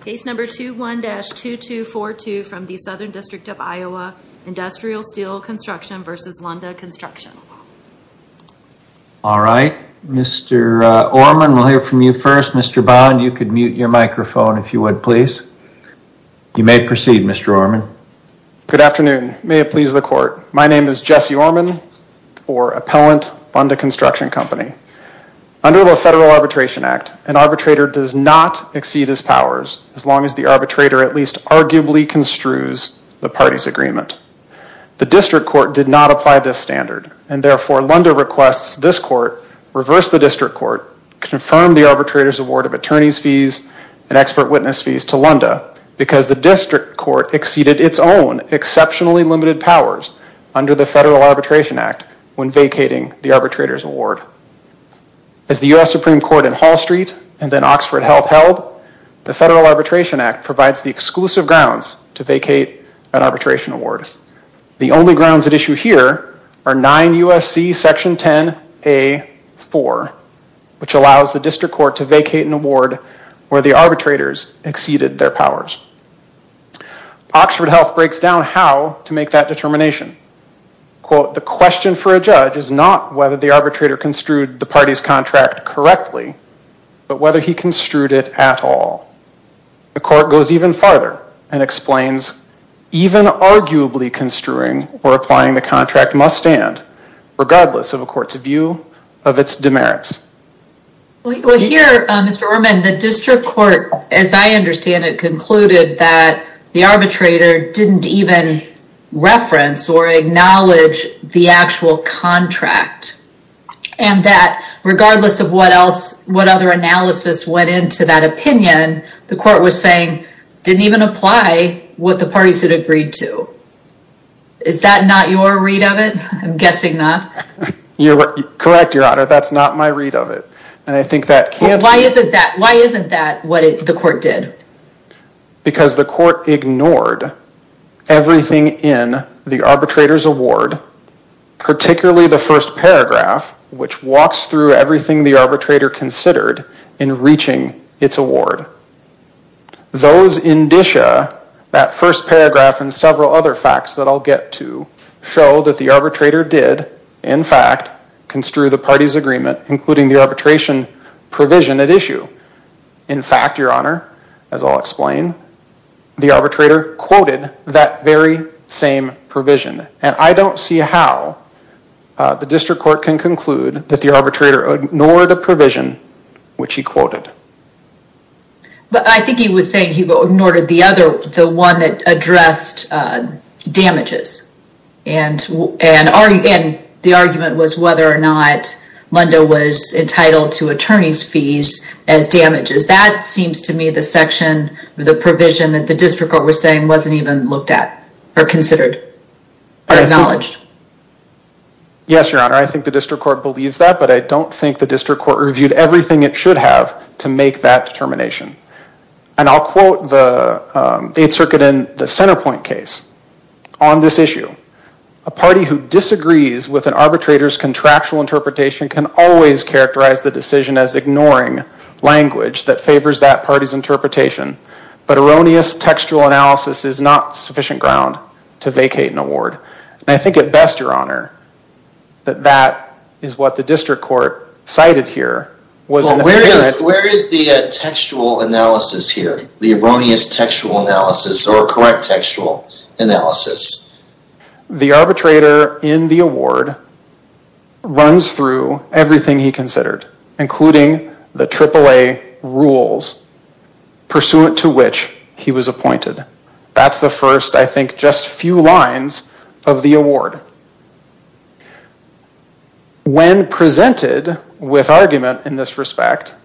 Case number 21-2242 from the Southern District of Iowa, Industrial Steel Construction v. Lunda Construction All right, Mr. Orman, we'll hear from you first. Mr. Bond, you could mute your microphone if you would, please. You may proceed, Mr. Orman. Good afternoon. May it please the Court. My name is Jesse Orman, or Appellant, Lunda Construction Company. Under the Federal Arbitration Act, an arbitrator does not exceed his powers as long as the arbitrator at least arguably construes the party's agreement. The District Court did not apply this standard and therefore Lunda requests this Court reverse the District Court, confirm the arbitrator's award of attorney's fees and expert witness fees to Lunda because the District Court exceeded its own exceptionally limited powers under the Federal Arbitration Act when vacating the arbitrator's award. As the U.S. Supreme Court in Hall Street and then Oxford Health held, the Federal Arbitration Act provides the exclusive grounds to vacate an arbitration award. The only grounds at issue here are 9 U.S.C. Section 10a.4, which allows the District Court to vacate an award where the arbitrators exceeded their powers. Oxford Health breaks down how to make that determination. Quote, the question for a judge is not whether the arbitrator construed the party's contract correctly, but whether he construed it at all. The Court goes even farther and explains even arguably construing or applying the contract must stand, regardless of a court's view of its demerits. Well here, Mr. Orman, the District Court, as I understand it, concluded that the arbitrator didn't even reference or acknowledge the actual contract and that regardless of what else, what other analysis went into that opinion, the Court was saying didn't even apply what the parties had agreed to. Is that not your read of it? I'm guessing not. You're correct, Your Honor. That's not my read of it. And I think that can't... Why isn't that? Why isn't that what the Court did? Because the Court ignored everything in the arbitrator's award, particularly the first paragraph, which walks through everything the arbitrator considered in reaching its award. Those indicia, that first paragraph and several other facts that I'll get to, show that the arbitrator did, in fact, construe the party's agreement, including the arbitration provision at issue. In fact, Your Honor, as I'll explain, the arbitrator quoted that very same provision and I don't see how the District Court can conclude that the arbitrator ignored a provision which he quoted. But I think he was saying he ignored the other, the one that addressed damages and the argument was whether or not Lunda was entitled to attorney's fees as damages. That seems to me the section, the provision that the District Court was saying wasn't even looked at or considered or acknowledged. Yes, Your Honor, I think the District Court believes that, but I don't think the District Court reviewed everything it should have to make that determination. And I'll quote the Eighth Circuit in the Centerpoint case on this issue. A party who disagrees with an arbitrator's contractual interpretation can always characterize the decision as ignoring language that favors that party's interpretation, but erroneous textual analysis is not sufficient ground to vacate an award. And I think at best, Your Honor, that that is what the District Court cited here. Well, where is the textual analysis here? The erroneous textual analysis or correct textual analysis? The arbitrator in the award runs through everything he considered, including the AAA rules pursuant to which he was appointed. That's the first, I think, just few lines of the award. When presented with argument in this respect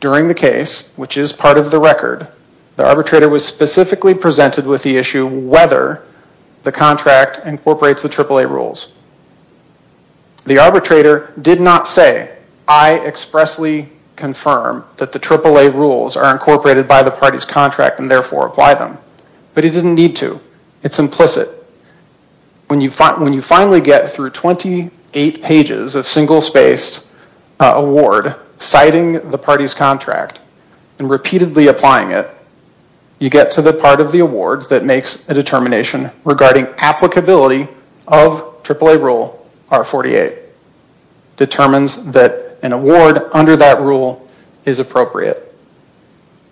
during the case, which is part of the record, the arbitrator was specifically presented with the issue whether the contract incorporates the AAA rules. The arbitrator did not say, I expressly confirm that the AAA rules are appropriate, but he didn't need to. It's implicit. When you finally get through 28 pages of single spaced award citing the party's contract and repeatedly applying it, you get to the part of the awards that makes a determination regarding applicability of AAA rule R48. Determines that an award under that rule is appropriate.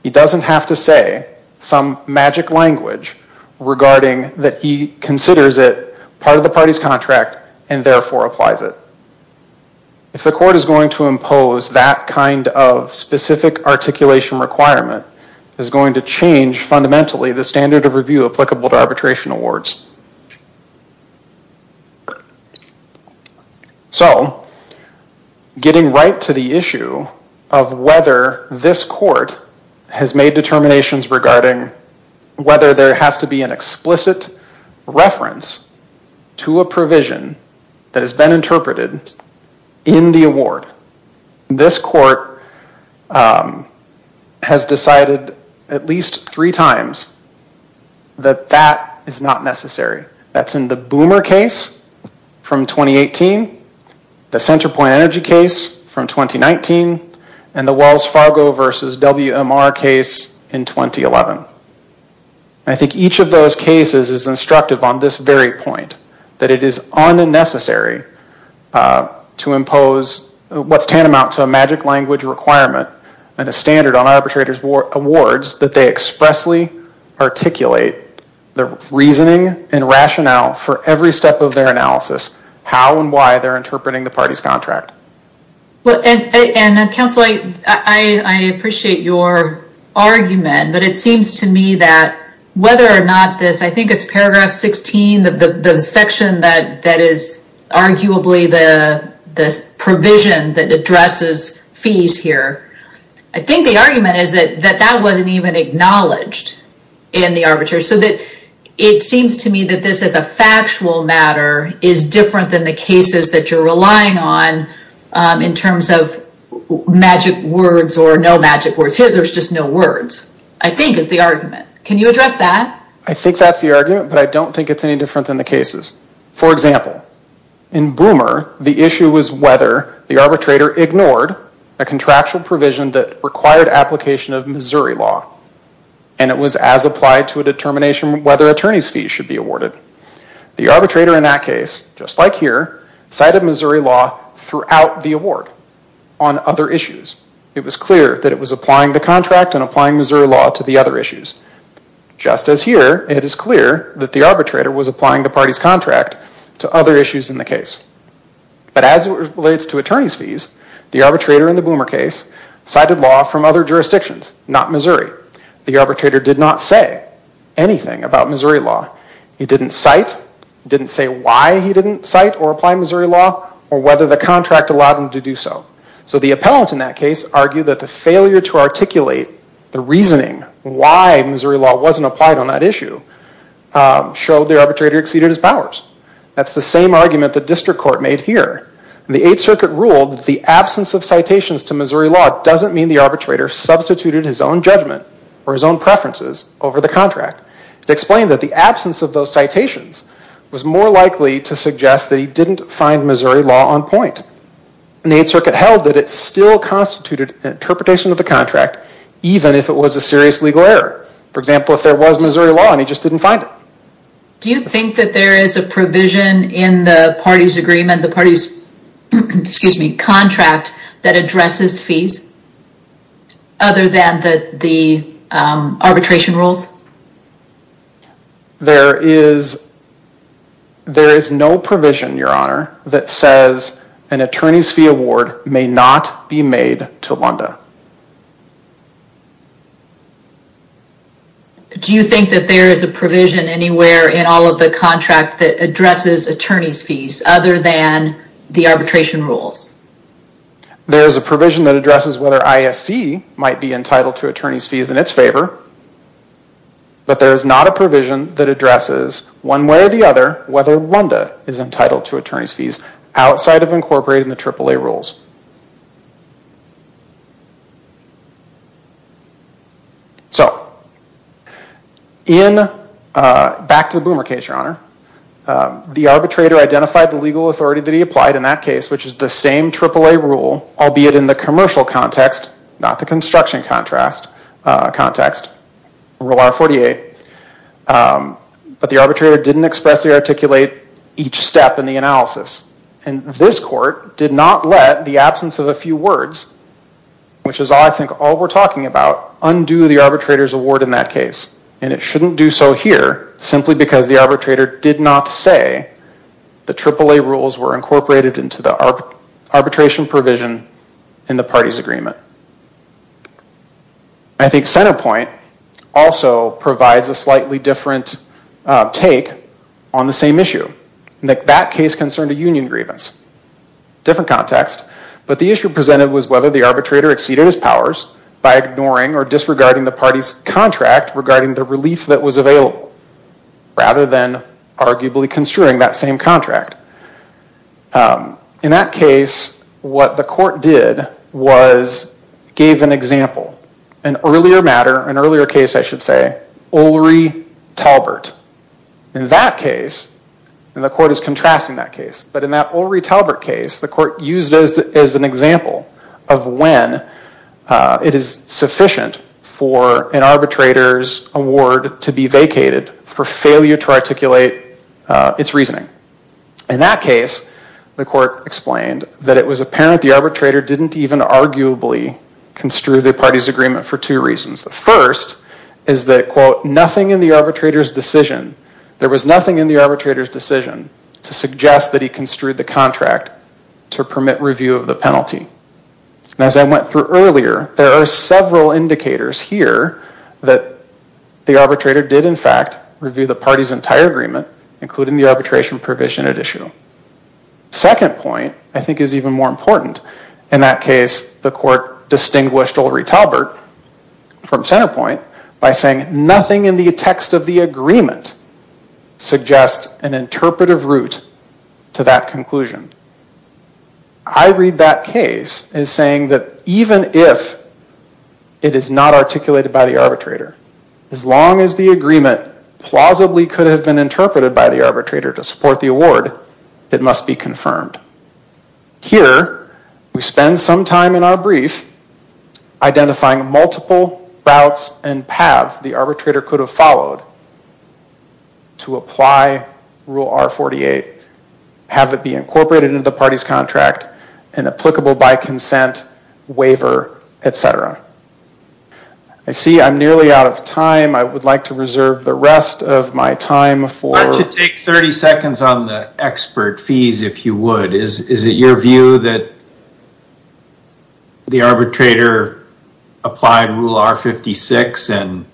He doesn't have to say some magic language regarding that he considers it part of the party's contract and therefore applies it. If the court is going to impose that kind of specific articulation requirement, is going to change fundamentally the standard of review applicable to arbitration awards. So, getting right to the issue of whether this court has made determinations regarding whether there has to be an explicit reference to a provision that has been interpreted in the award. This court has decided at least three times that that is not necessary. That's in the Boomer case from 2018, the Centerpoint Energy case from 2019, and the Wells Fargo versus WMR case in 2011. I think each of those cases is instructive on this very point, that it is unnecessary to impose what's tantamount to a magic language requirement and a standard on arbitrators' awards that they expressly articulate the reasoning and rationale for every step of their analysis, how and why they're interpreting the party's contract. And Counsel, I appreciate your argument, but it seems to me that whether or not this, I think it's paragraph 16, the section that is arguably the provision that addresses fees here. I think the argument is that that wasn't even acknowledged in the arbitration. So, it seems to me that this as a factual matter is different than the cases that you're relying on in terms of magic words or no magic words. Here, there's just no words, I think is the argument. Can you address that? I think that's the argument, but I don't think it's any different than the cases. For example, in Boomer, the issue was whether the arbitrator ignored a contractual provision that required application of Missouri law, and it was as applied to a determination whether attorneys' fees should be awarded. The arbitrator in that case, just like here, cited Missouri law throughout the award on other issues. It was clear that it was applying the contract and applying Missouri law to the other issues. Just as here, it is clear that the arbitrator was applying the party's contract to other issues in the case. But as it relates to attorneys' fees, the arbitrator in the Boomer case cited law from other jurisdictions, not Missouri. The arbitrator did not say anything about Missouri law. He didn't cite, didn't say why he didn't cite or apply Missouri law, or whether the contract allowed him to do so. So the appellant in that case argued that the failure to articulate the reasoning why Missouri law wasn't applied on that issue showed the arbitrator exceeded his powers. That's the same argument the district court made here. The Eighth Circuit ruled the absence of citations to Missouri law doesn't mean the arbitrator substituted his own judgment or his own preferences over the contract. It explained that the absence of those citations was more likely to suggest that he didn't find Missouri law on point. The Eighth Circuit held that it still constituted an interpretation of the contract even if it was a serious legal error. For example, if there was Missouri law and he just didn't find it. Do you think that there is a provision in the party's agreement, the party's, excuse me, contract that addresses fees other than the arbitration rules? There is no provision, your honor, that says an attorney's fee award may not be made to Lunda. Do you think that there is a provision anywhere in all of the contract that addresses attorney's fees other than the arbitration rules? There is a provision that addresses whether ISC might be but there is not a provision that addresses one way or the other whether Lunda is entitled to attorney's fees outside of incorporating the AAA rules. So, back to the Boomer case, your honor. The arbitrator identified the legal authority that he applied in that case, which is the same AAA rule, albeit in the commercial context, not the construction context, Rule R-48, but the arbitrator didn't expressly articulate each step in the analysis. And this court did not let the absence of a few words, which is I think all we're talking about, undo the arbitrator's award in that case. And it shouldn't do so here simply because the arbitrator did not say the AAA rules were incorporated into the arbitration provision in the party's agreement. I think Centerpoint also provides a slightly different take on the same issue, that case concerned a union grievance. Different context, but the issue presented was whether the arbitrator exceeded his powers by ignoring or disregarding the party's contract regarding the relief that was available rather than arguably construing that same contract. In that case, what the court did was gave an example, an earlier matter, an earlier case I should say, Ulri Talbert. In that case, and the court is contrasting that case, but in that Ulri Talbert case, the court used as an example of when it is sufficient for an arbitrator's award to be vacated for failure to articulate its reasoning. In that case, the court explained that it was apparent the arbitrator didn't even arguably construe the party's agreement for two reasons. The first is that, quote, nothing in the arbitrator's decision, there was nothing in the arbitrator's decision to suggest that he construed the contract to permit review of the penalty. As I went through earlier, there are several indicators here that the arbitrator did in fact review the party's entire agreement, including the arbitration provision at issue. Second point, I think, is even more important. In that case, the court distinguished Ulri Talbert from Centerpoint by saying nothing in the text of the agreement suggests an interpretive route to that conclusion. I read that case as saying that even if it is not articulated by the arbitrator, as long as the agreement plausibly could have been interpreted by the arbitrator to support the award, it must be confirmed. Here, we spend some time in our brief identifying multiple routes and paths the arbitrator could have followed to apply Rule R-48, have it be incorporated into the party's contract, and applicable by consent, waiver, etc. I see I'm nearly out of time. I would like to reserve the rest of my time for... Why don't you take 30 seconds on the expert fees, if you would. Is it your view that the arbitrator applied Rule R-56 and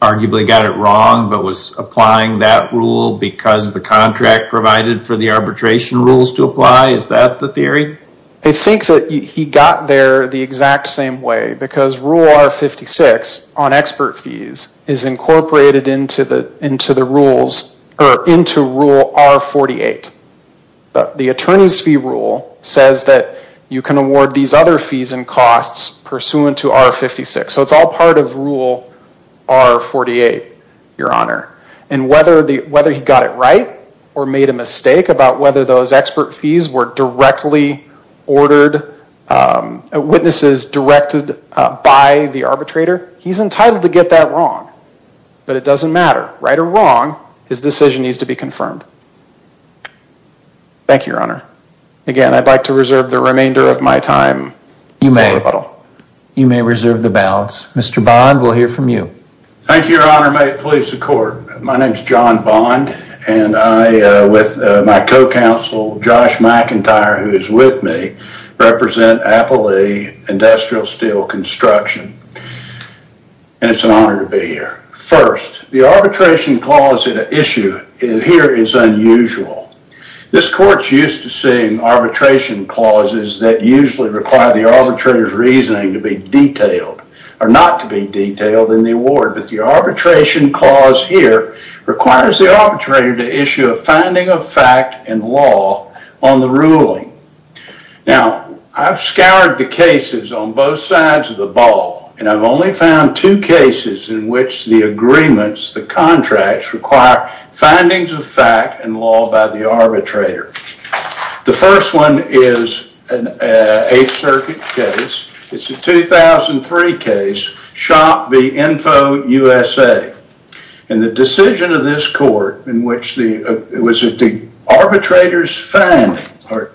arguably got it wrong, but was applying that rule because the contract provided for the arbitration rules to apply? Is that the theory? I think that he got there the exact same way because Rule R-56 on expert fees is incorporated into the rules or into Rule R-48. But the attorney's fee rule says that you can award these other fees and costs pursuant to R-56. So it's all part of Rule R-48, Your Honor, and whether he got it right or made a mistake about whether those expert fees were directly ordered, witnesses directed by the arbitrator, he's entitled to get that wrong. But it doesn't matter, right or wrong, his decision needs to be confirmed. Thank you, Your Honor. Again, I'd like to reserve the remainder of my time. You may. You may reserve the balance. Mr. Bond, we'll hear from you. Thank you, Your Honor. May it please the Court. My name is John Bond and I, with my co-counsel Josh McIntyre, who is with me, represent Appalachian Industrial Steel Construction, and it's an honor to be here. First, the arbitration clause in the issue here is unusual. This Court's used to seeing arbitration clauses that usually require the arbitrator's reasoning to be detailed or not to be detailed in the award, but the arbitration clause here requires the arbitrator to issue a finding of fact and law on the ruling. Now, I've scoured the cases on both sides of the ball, and I've only found two cases in which the agreements, the contracts, require findings of fact and law by the arbitrator. The first one is an Eighth Circuit case. It's a 2003 case, Shop v. Info USA, and the decision of this court in which the, was it the arbitrator's finding, or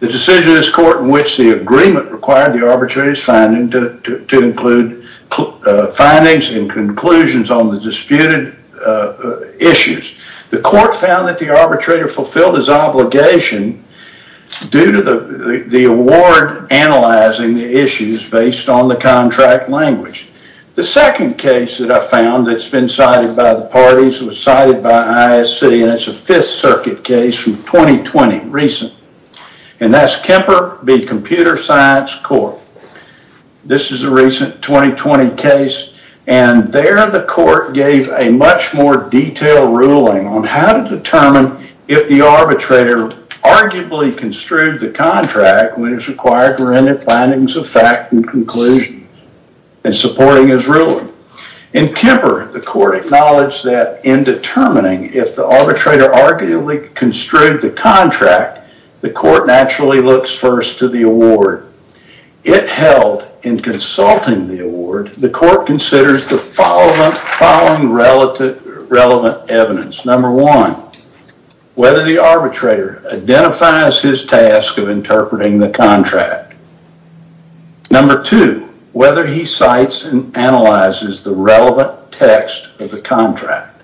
the decision of this court in which the agreement required the arbitrator's finding to include findings and conclusions on the disputed issues. The court found that the arbitrator fulfilled his obligation due to the award analyzing the issues based on the contract language. The second case that I found that's been cited by the parties was cited by ISC, and it's a Fifth Circuit case from 2020, recent, and that's Kemper v. Computer Science Court. This is a recent 2020 case, and there the court gave a much more detailed ruling on how to determine if the arbitrator arguably construed the contract when it's required to render findings of fact and conclusions, and supporting his ruling. In Kemper, the court acknowledged that in determining if the arbitrator arguably construed the contract, the court naturally looks first to the award. It held in consulting the award, the court considers the following relative, relevant evidence. Number one, whether the arbitrator identifies his task of interpreting the contract. Number two, whether he cites and analyzes the relevant text of the contract,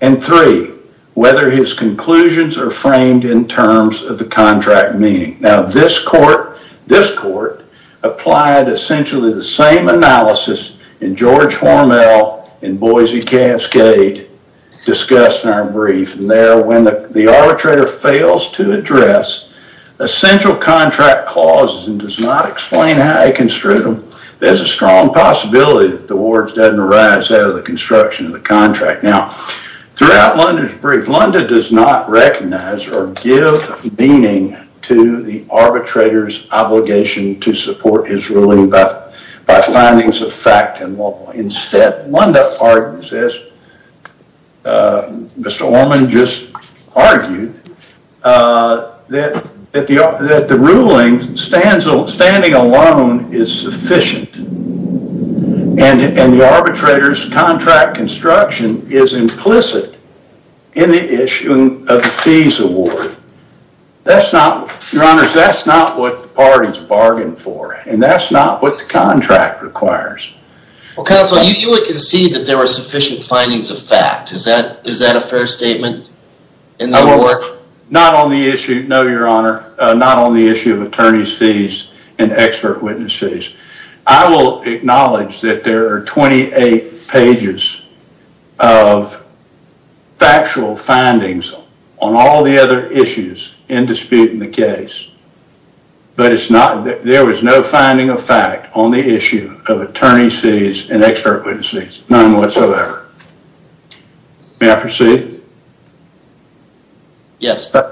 and three, whether his conclusions are framed in terms of the contract meaning. Now this court, this court applied essentially the same analysis in George Hormel and Boise Cascade discussed in our brief, and there when the arbitrator fails to address essential contract clauses and does not explain how he construed them, there's a strong possibility that the awards doesn't arise out of the construction of the contract. Now throughout Lunda's brief, Lunda does not recognize or give meaning to the arbitrator's obligation to support his ruling by findings of fact and law. Instead, Lunda argues this Mr. Orman just argued that the ruling standing alone is sufficient and the arbitrator's contract construction is implicit in the issuing of the fees award. That's not, your honors, that's not what the parties bargained for and that's not what the contract requires. Well counsel, you would concede that there were sufficient findings of fact. Is that, is that a fair statement in the court? Not on the issue, no your honor, not on the issue of attorney's fees and expert witnesses. I will acknowledge that there are 28 pages of factual findings on all the other issues in dispute in the case, but it's not, there was no finding of fact on the issue of attorney's fees and expert witnesses, none whatsoever. May I proceed? Yes, sir.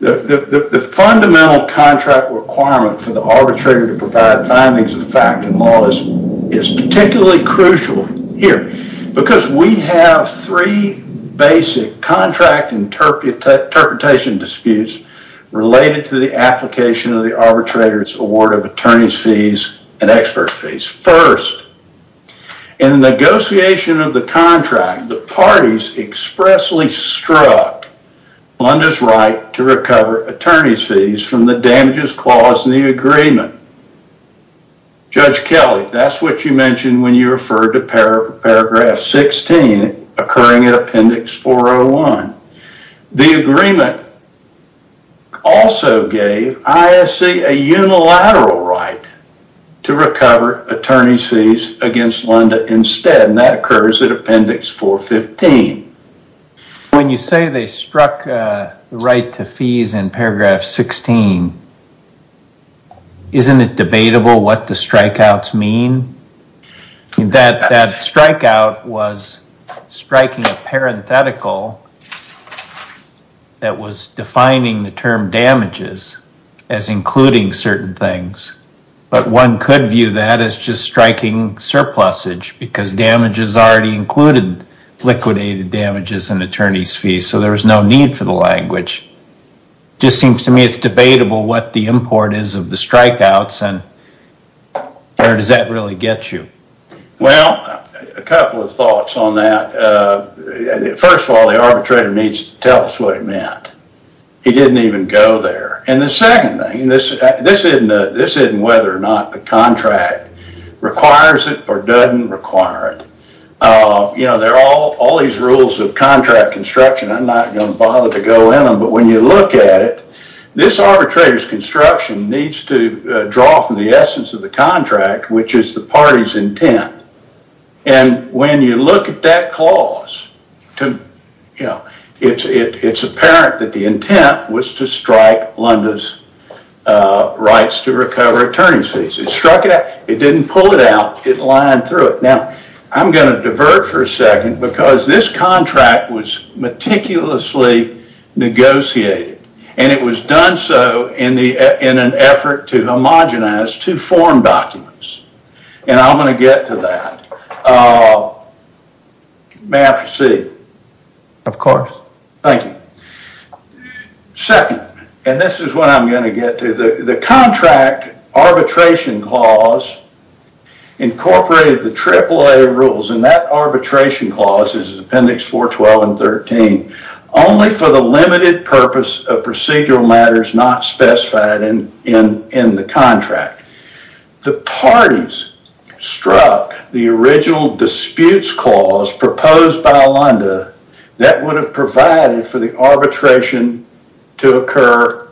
The fundamental contract requirement for the arbitrator to provide findings of fact and law is particularly crucial here because we have three basic contract interpretation disputes related to the application of the arbitrator's award of attorney's fees and expert fees. First, in the negotiation of the contract, the parties expressly struck Blunder's right to recover attorney's fees from the damages clause in the agreement. Judge Kelly, that's what you mentioned when you referred to paragraph 16 occurring in appendix 401. The agreement also gave ISC a unilateral right to recover attorney's fees against Blunder instead, and that occurs at appendix 415. When you say they struck right to fees in paragraph 16, isn't it debatable what the strikeouts mean? That strikeout was striking a parenthetical that was defining the term damages as including certain things. But one could view that as just striking surplusage because damages already included liquidated damages and attorney's fees, so there was no need for the language. Just seems to me it's debatable what the import is of the strikeouts and where does that really get you? Well, a couple of thoughts on that. First of all, the arbitrator needs to tell us what it meant. He didn't even go there. And the second thing, this isn't whether or not the contract requires it or doesn't require it. You know, there are all these rules of contract construction. I'm not going to bother to go in them, but when you look at it, this arbitrator's construction needs to draw from the essence of the contract, which is the party's intent. And when you look at that clause, you know, it's apparent that the intent was to strike Lunda's rights to recover attorney's fees. It struck it out. It didn't pull it out. It lined through it. Now, I'm going to divert for a second because this contract was meticulously negotiated, and it was done so in an effort to homogenize two form documents, and I'm going to get to that. May I proceed? Of course. Thank you. Second, and this is what I'm going to get to, the contract arbitration clause incorporated the AAA rules, and that arbitration clause is Appendix 412 and 13, only for the limited purpose of procedural matters not specified in the contract. The parties struck the original disputes clause proposed by Lunda that would have provided for the arbitration to occur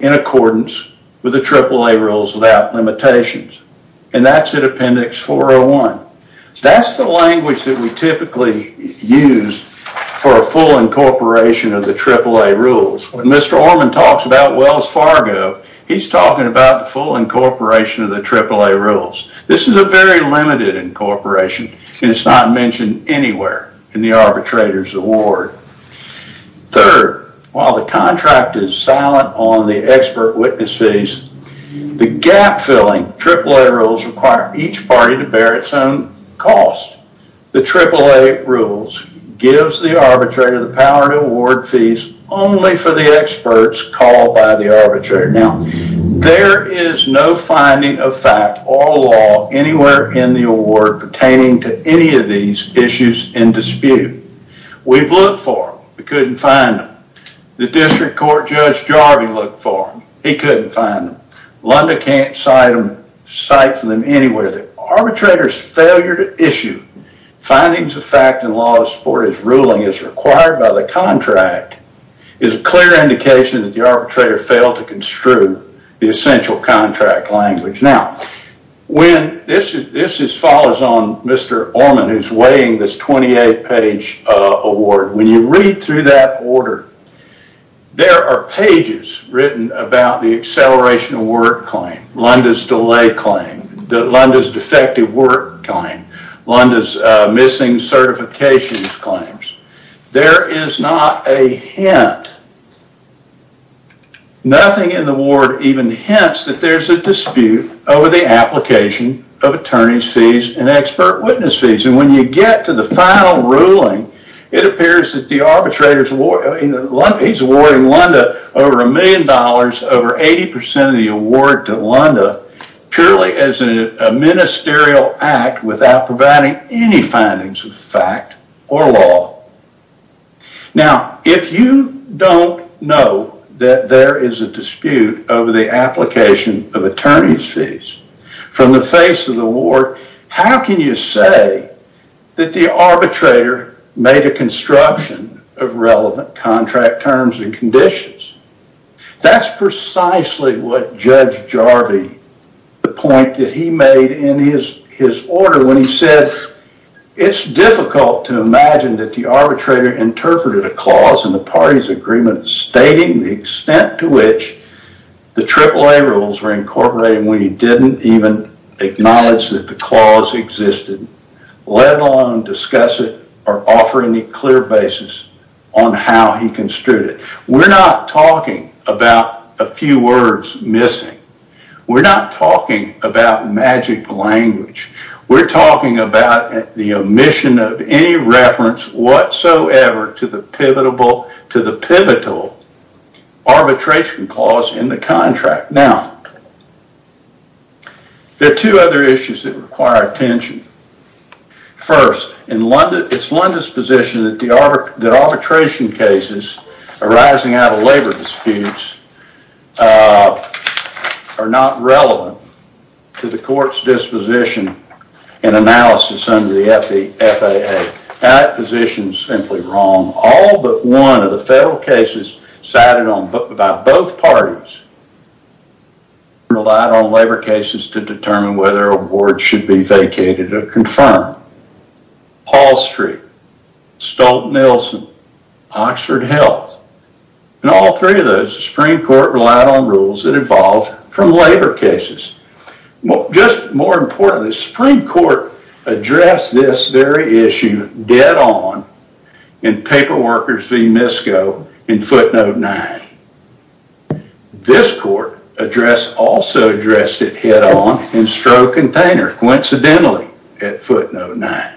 in accordance with the AAA rules without limitations, and that's at Appendix 401. That's the language that we typically use for a full incorporation of the AAA rules. When Mr. Orman talks about Wells Fargo, he's talking about the full incorporation of the AAA rules. This is a very limited incorporation, and it's not mentioned anywhere in the arbitrator's award. Third, while the contract is silent on the expert witness fees, the gap-filling AAA rules require each party to bear its own cost. The AAA rules gives the arbitrator the power to award fees only for the experts called by the arbitrator. Now, there is no finding of fact or law anywhere in the award pertaining to any of these issues in dispute. We've looked for them. We couldn't find them. The District Court Judge Jarvie looked for them. He couldn't find them. Lunda can't cite them anywhere. The arbitrator's failure to issue findings of fact and laws for his ruling as required by the contract is a clear indication that the arbitrator failed to construe the essential contract language. Now, this follows on Mr. Orman, who's weighing this 28-page award. When you read through that order, there are pages written about the acceleration of work claim, Lunda's delay claim, Lunda's defective work claim, Lunda's missing certifications claims. There is not a hint, nothing in the award even hints that there's a dispute over the application of attorney's fees and expert witness fees. And when you get to the final ruling, it appears that the arbitrator's award, he's awarding Lunda over a million dollars, over 80% of the award to Lunda, purely as a ministerial act without providing any findings of fact or law. Now, if you don't know that there is a dispute over the application of attorney's fees from the face of the award, how can you say that the arbitrator made a construction of relevant contract terms and conditions? That's precisely what Judge Jarvie, the point that he made in his order when he said, it's difficult to imagine that the arbitrator interpreted a clause in the party's agreement stating the extent to which the AAA rules were incorporated when he didn't even acknowledge that the clause existed, let alone discuss it or offer any clear basis on how he construed it. We're not talking about a few words missing. We're not talking about magic language. We're talking about the omission of any reference whatsoever to the pivotal arbitration clause in the contract. Now, there are two other issues that require attention. First, it's Lunda's position that the arbitration cases arising out of labor disputes are not relevant to the court's disposition and analysis under the FAA. That position is simply wrong. All but one of the federal cases cited by both parties relied on labor cases to determine whether a board should be vacated or confirmed. Paul Street, Stolt-Nelson, Oxford Health, and all three of those, the Supreme Court relied on rules that evolved from labor cases. Well, just more importantly, the Supreme Court addressed this very issue dead on in Paperworkers v. Misko in footnote 9. This court address also addressed it head-on in Stroke Container, coincidentally, at footnote 9.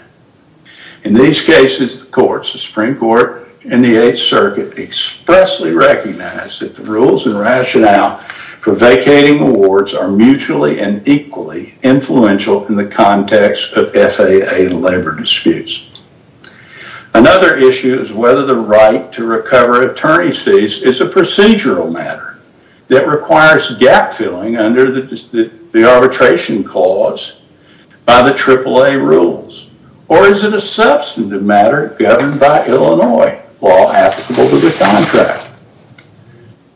In these cases, the courts, the Supreme Court, and the Eighth Circuit expressly recognized that the rules and rationale for vacating the wards are mutually and equally influential in the context of FAA and labor disputes. Another issue is whether the right to recover attorney's fees is a procedural matter that requires gap-filling under the arbitration clause by the AAA rules, or is it a substantive matter governed by Illinois law applicable to the contract?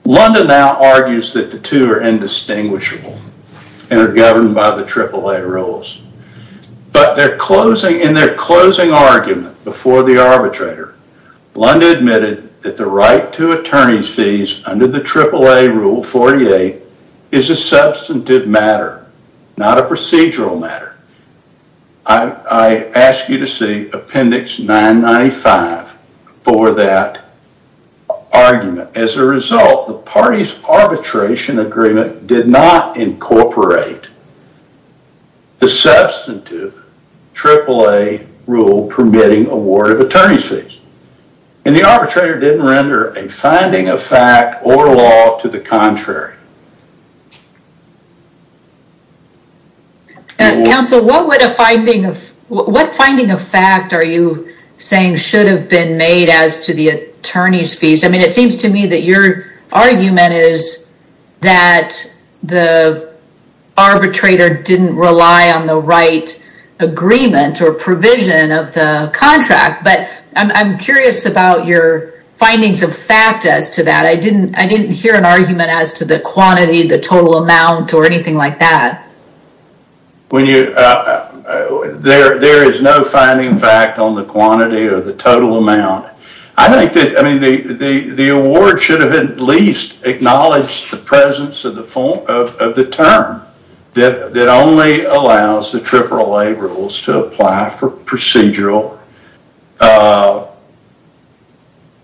Lunda now argues that the two are indistinguishable and are governed by the AAA rules, but in their closing argument before the arbitrator, Lunda admitted that the right to attorney's fees under the AAA rule 48 is a substantive matter, not a procedural matter. I ask you to see appendix 995 for that argument. As a result, the party's arbitration agreement did not incorporate the substantive AAA rule permitting a ward of attorney's fees, and the arbitrator didn't render a finding of fact or law to the contrary. Counsel, what would a finding of, what finding of fact are you saying should have been made as to the attorney's fees? I mean, it seems to me that your argument is that the arbitrator didn't rely on the right agreement or provision of the contract, but I'm curious about your findings of fact as to that. I didn't, I didn't hear an argument as to the quantity, the total amount, or anything like that. When you, there, there is no finding fact on the quantity or the total amount. I think that, I mean, the, the, the award should have at least acknowledged the presence of the form, of the term that only allows the AAA rules to apply for procedural,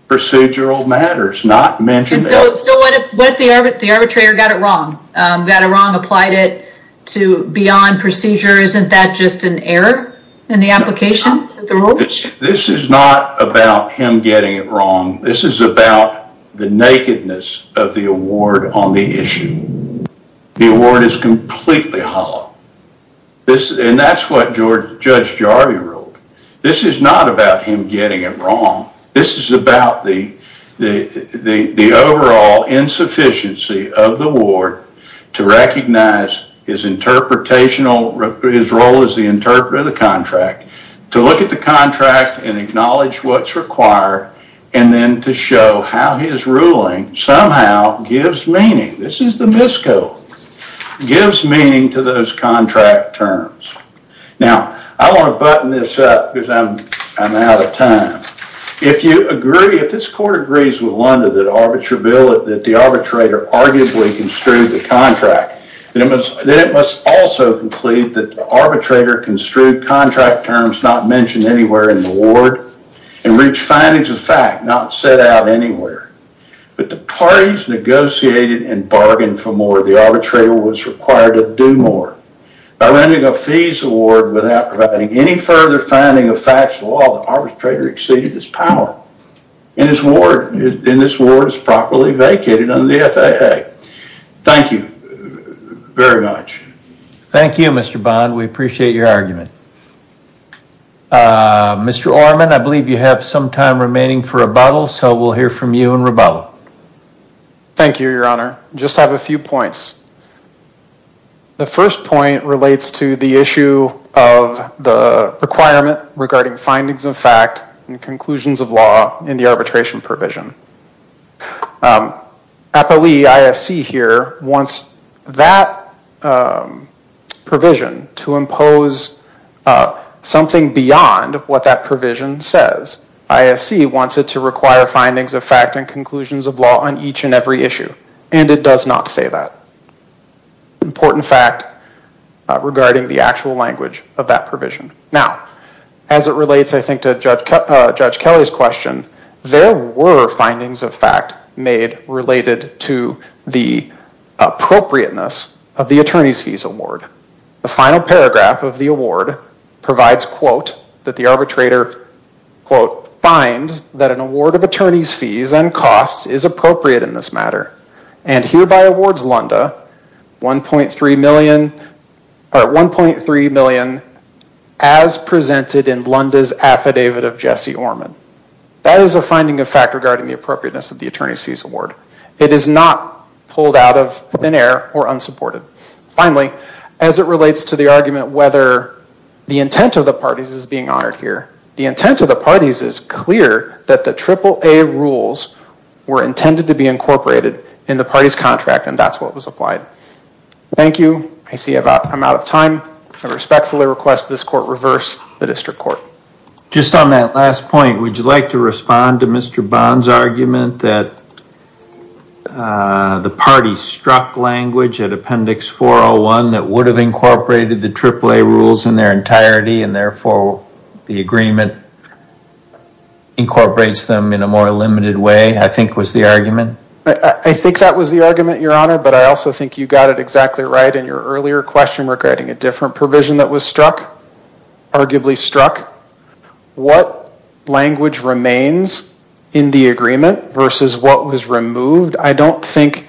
procedural matters, not mentioned. So, so what if, what if the arbitrator got it wrong, got it wrong, applied it to beyond procedure, isn't that just an error in the application of the rules? This is not about him getting it wrong. This is about the nakedness of the award on the issue. The award is completely hollow. This, and that's what George, Judge Jarvie wrote. This is not about him getting it wrong. This is about the, the, the overall insufficiency of the award to recognize his contract and acknowledge what's required, and then to show how his ruling somehow gives meaning. This is the MISCO. Gives meaning to those contract terms. Now, I want to button this up because I'm, I'm out of time. If you agree, if this court agrees with Lunda that arbitrable, that the arbitrator arguably construed the contract, then it must, then it must also conclude that the arbitrator construed contract terms not mentioned anywhere in the award, and reached findings of fact not set out anywhere. But the parties negotiated and bargained for more. The arbitrator was required to do more. By renting a fees award without providing any further finding of facts of the law, the arbitrator exceeded his power. And his award, and this award is properly vacated under the FAA. Thank you very much. Thank you, Mr. Bond. We appreciate your argument. Mr. Orman, I believe you have some time remaining for rebuttal, so we'll hear from you in rebuttal. Thank you, Your Honor. Just have a few points. The first point relates to the issue of the requirement regarding findings of fact and conclusions of law in the arbitration provision. Appellee ISC here wants that provision to impose something beyond what that provision says. ISC wants it to require findings of fact and conclusions of law on each and every issue, and it does not say that. Important fact regarding the actual language of that provision. Now, as it relates, I think, to Judge Kelly's question, there were findings of fact made related to the appropriateness of the attorney's fees award. The final paragraph of the award provides, quote, that the arbitrator, quote, finds that an award of attorney's fees and costs is appropriate in this matter and hereby awards Lunda $1.3 million or $1.3 million as a finding of fact regarding the appropriateness of the attorney's fees award. It is not pulled out of thin air or unsupported. Finally, as it relates to the argument whether the intent of the parties is being honored here, the intent of the parties is clear that the AAA rules were intended to be incorporated in the party's contract, and that's what was applied. Thank you. I see I'm out of time. I respectfully request this court reverse the district court. Just on that last point, would you like to respond to Mr. Bond's argument that the party struck language at Appendix 401 that would have incorporated the AAA rules in their entirety and therefore the agreement incorporates them in a more limited way, I think was the argument? I think that was the argument, Your Honor, but I also think you got it exactly right in your earlier question regarding a different provision that was struck, arguably struck. What language remains in the agreement versus what was removed, I don't think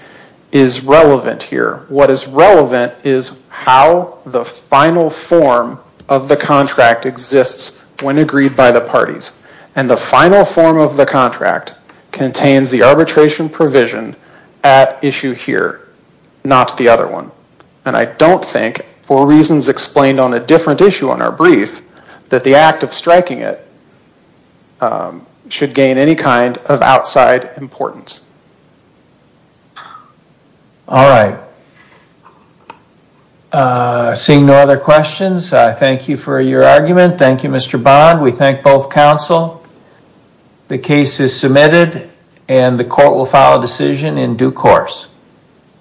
is relevant here. What is relevant is how the final form of the contract exists when agreed by the parties, and the final form of the contract contains the arbitration provision at Issue here, not the other one, and I don't think for reasons explained on a different issue on our brief that the act of striking it should gain any kind of outside importance. All right. Seeing no other questions, I thank you for your argument. Thank you, Mr. Bond. We thank both counsel. The case is submitted and the court will file a decision in due course.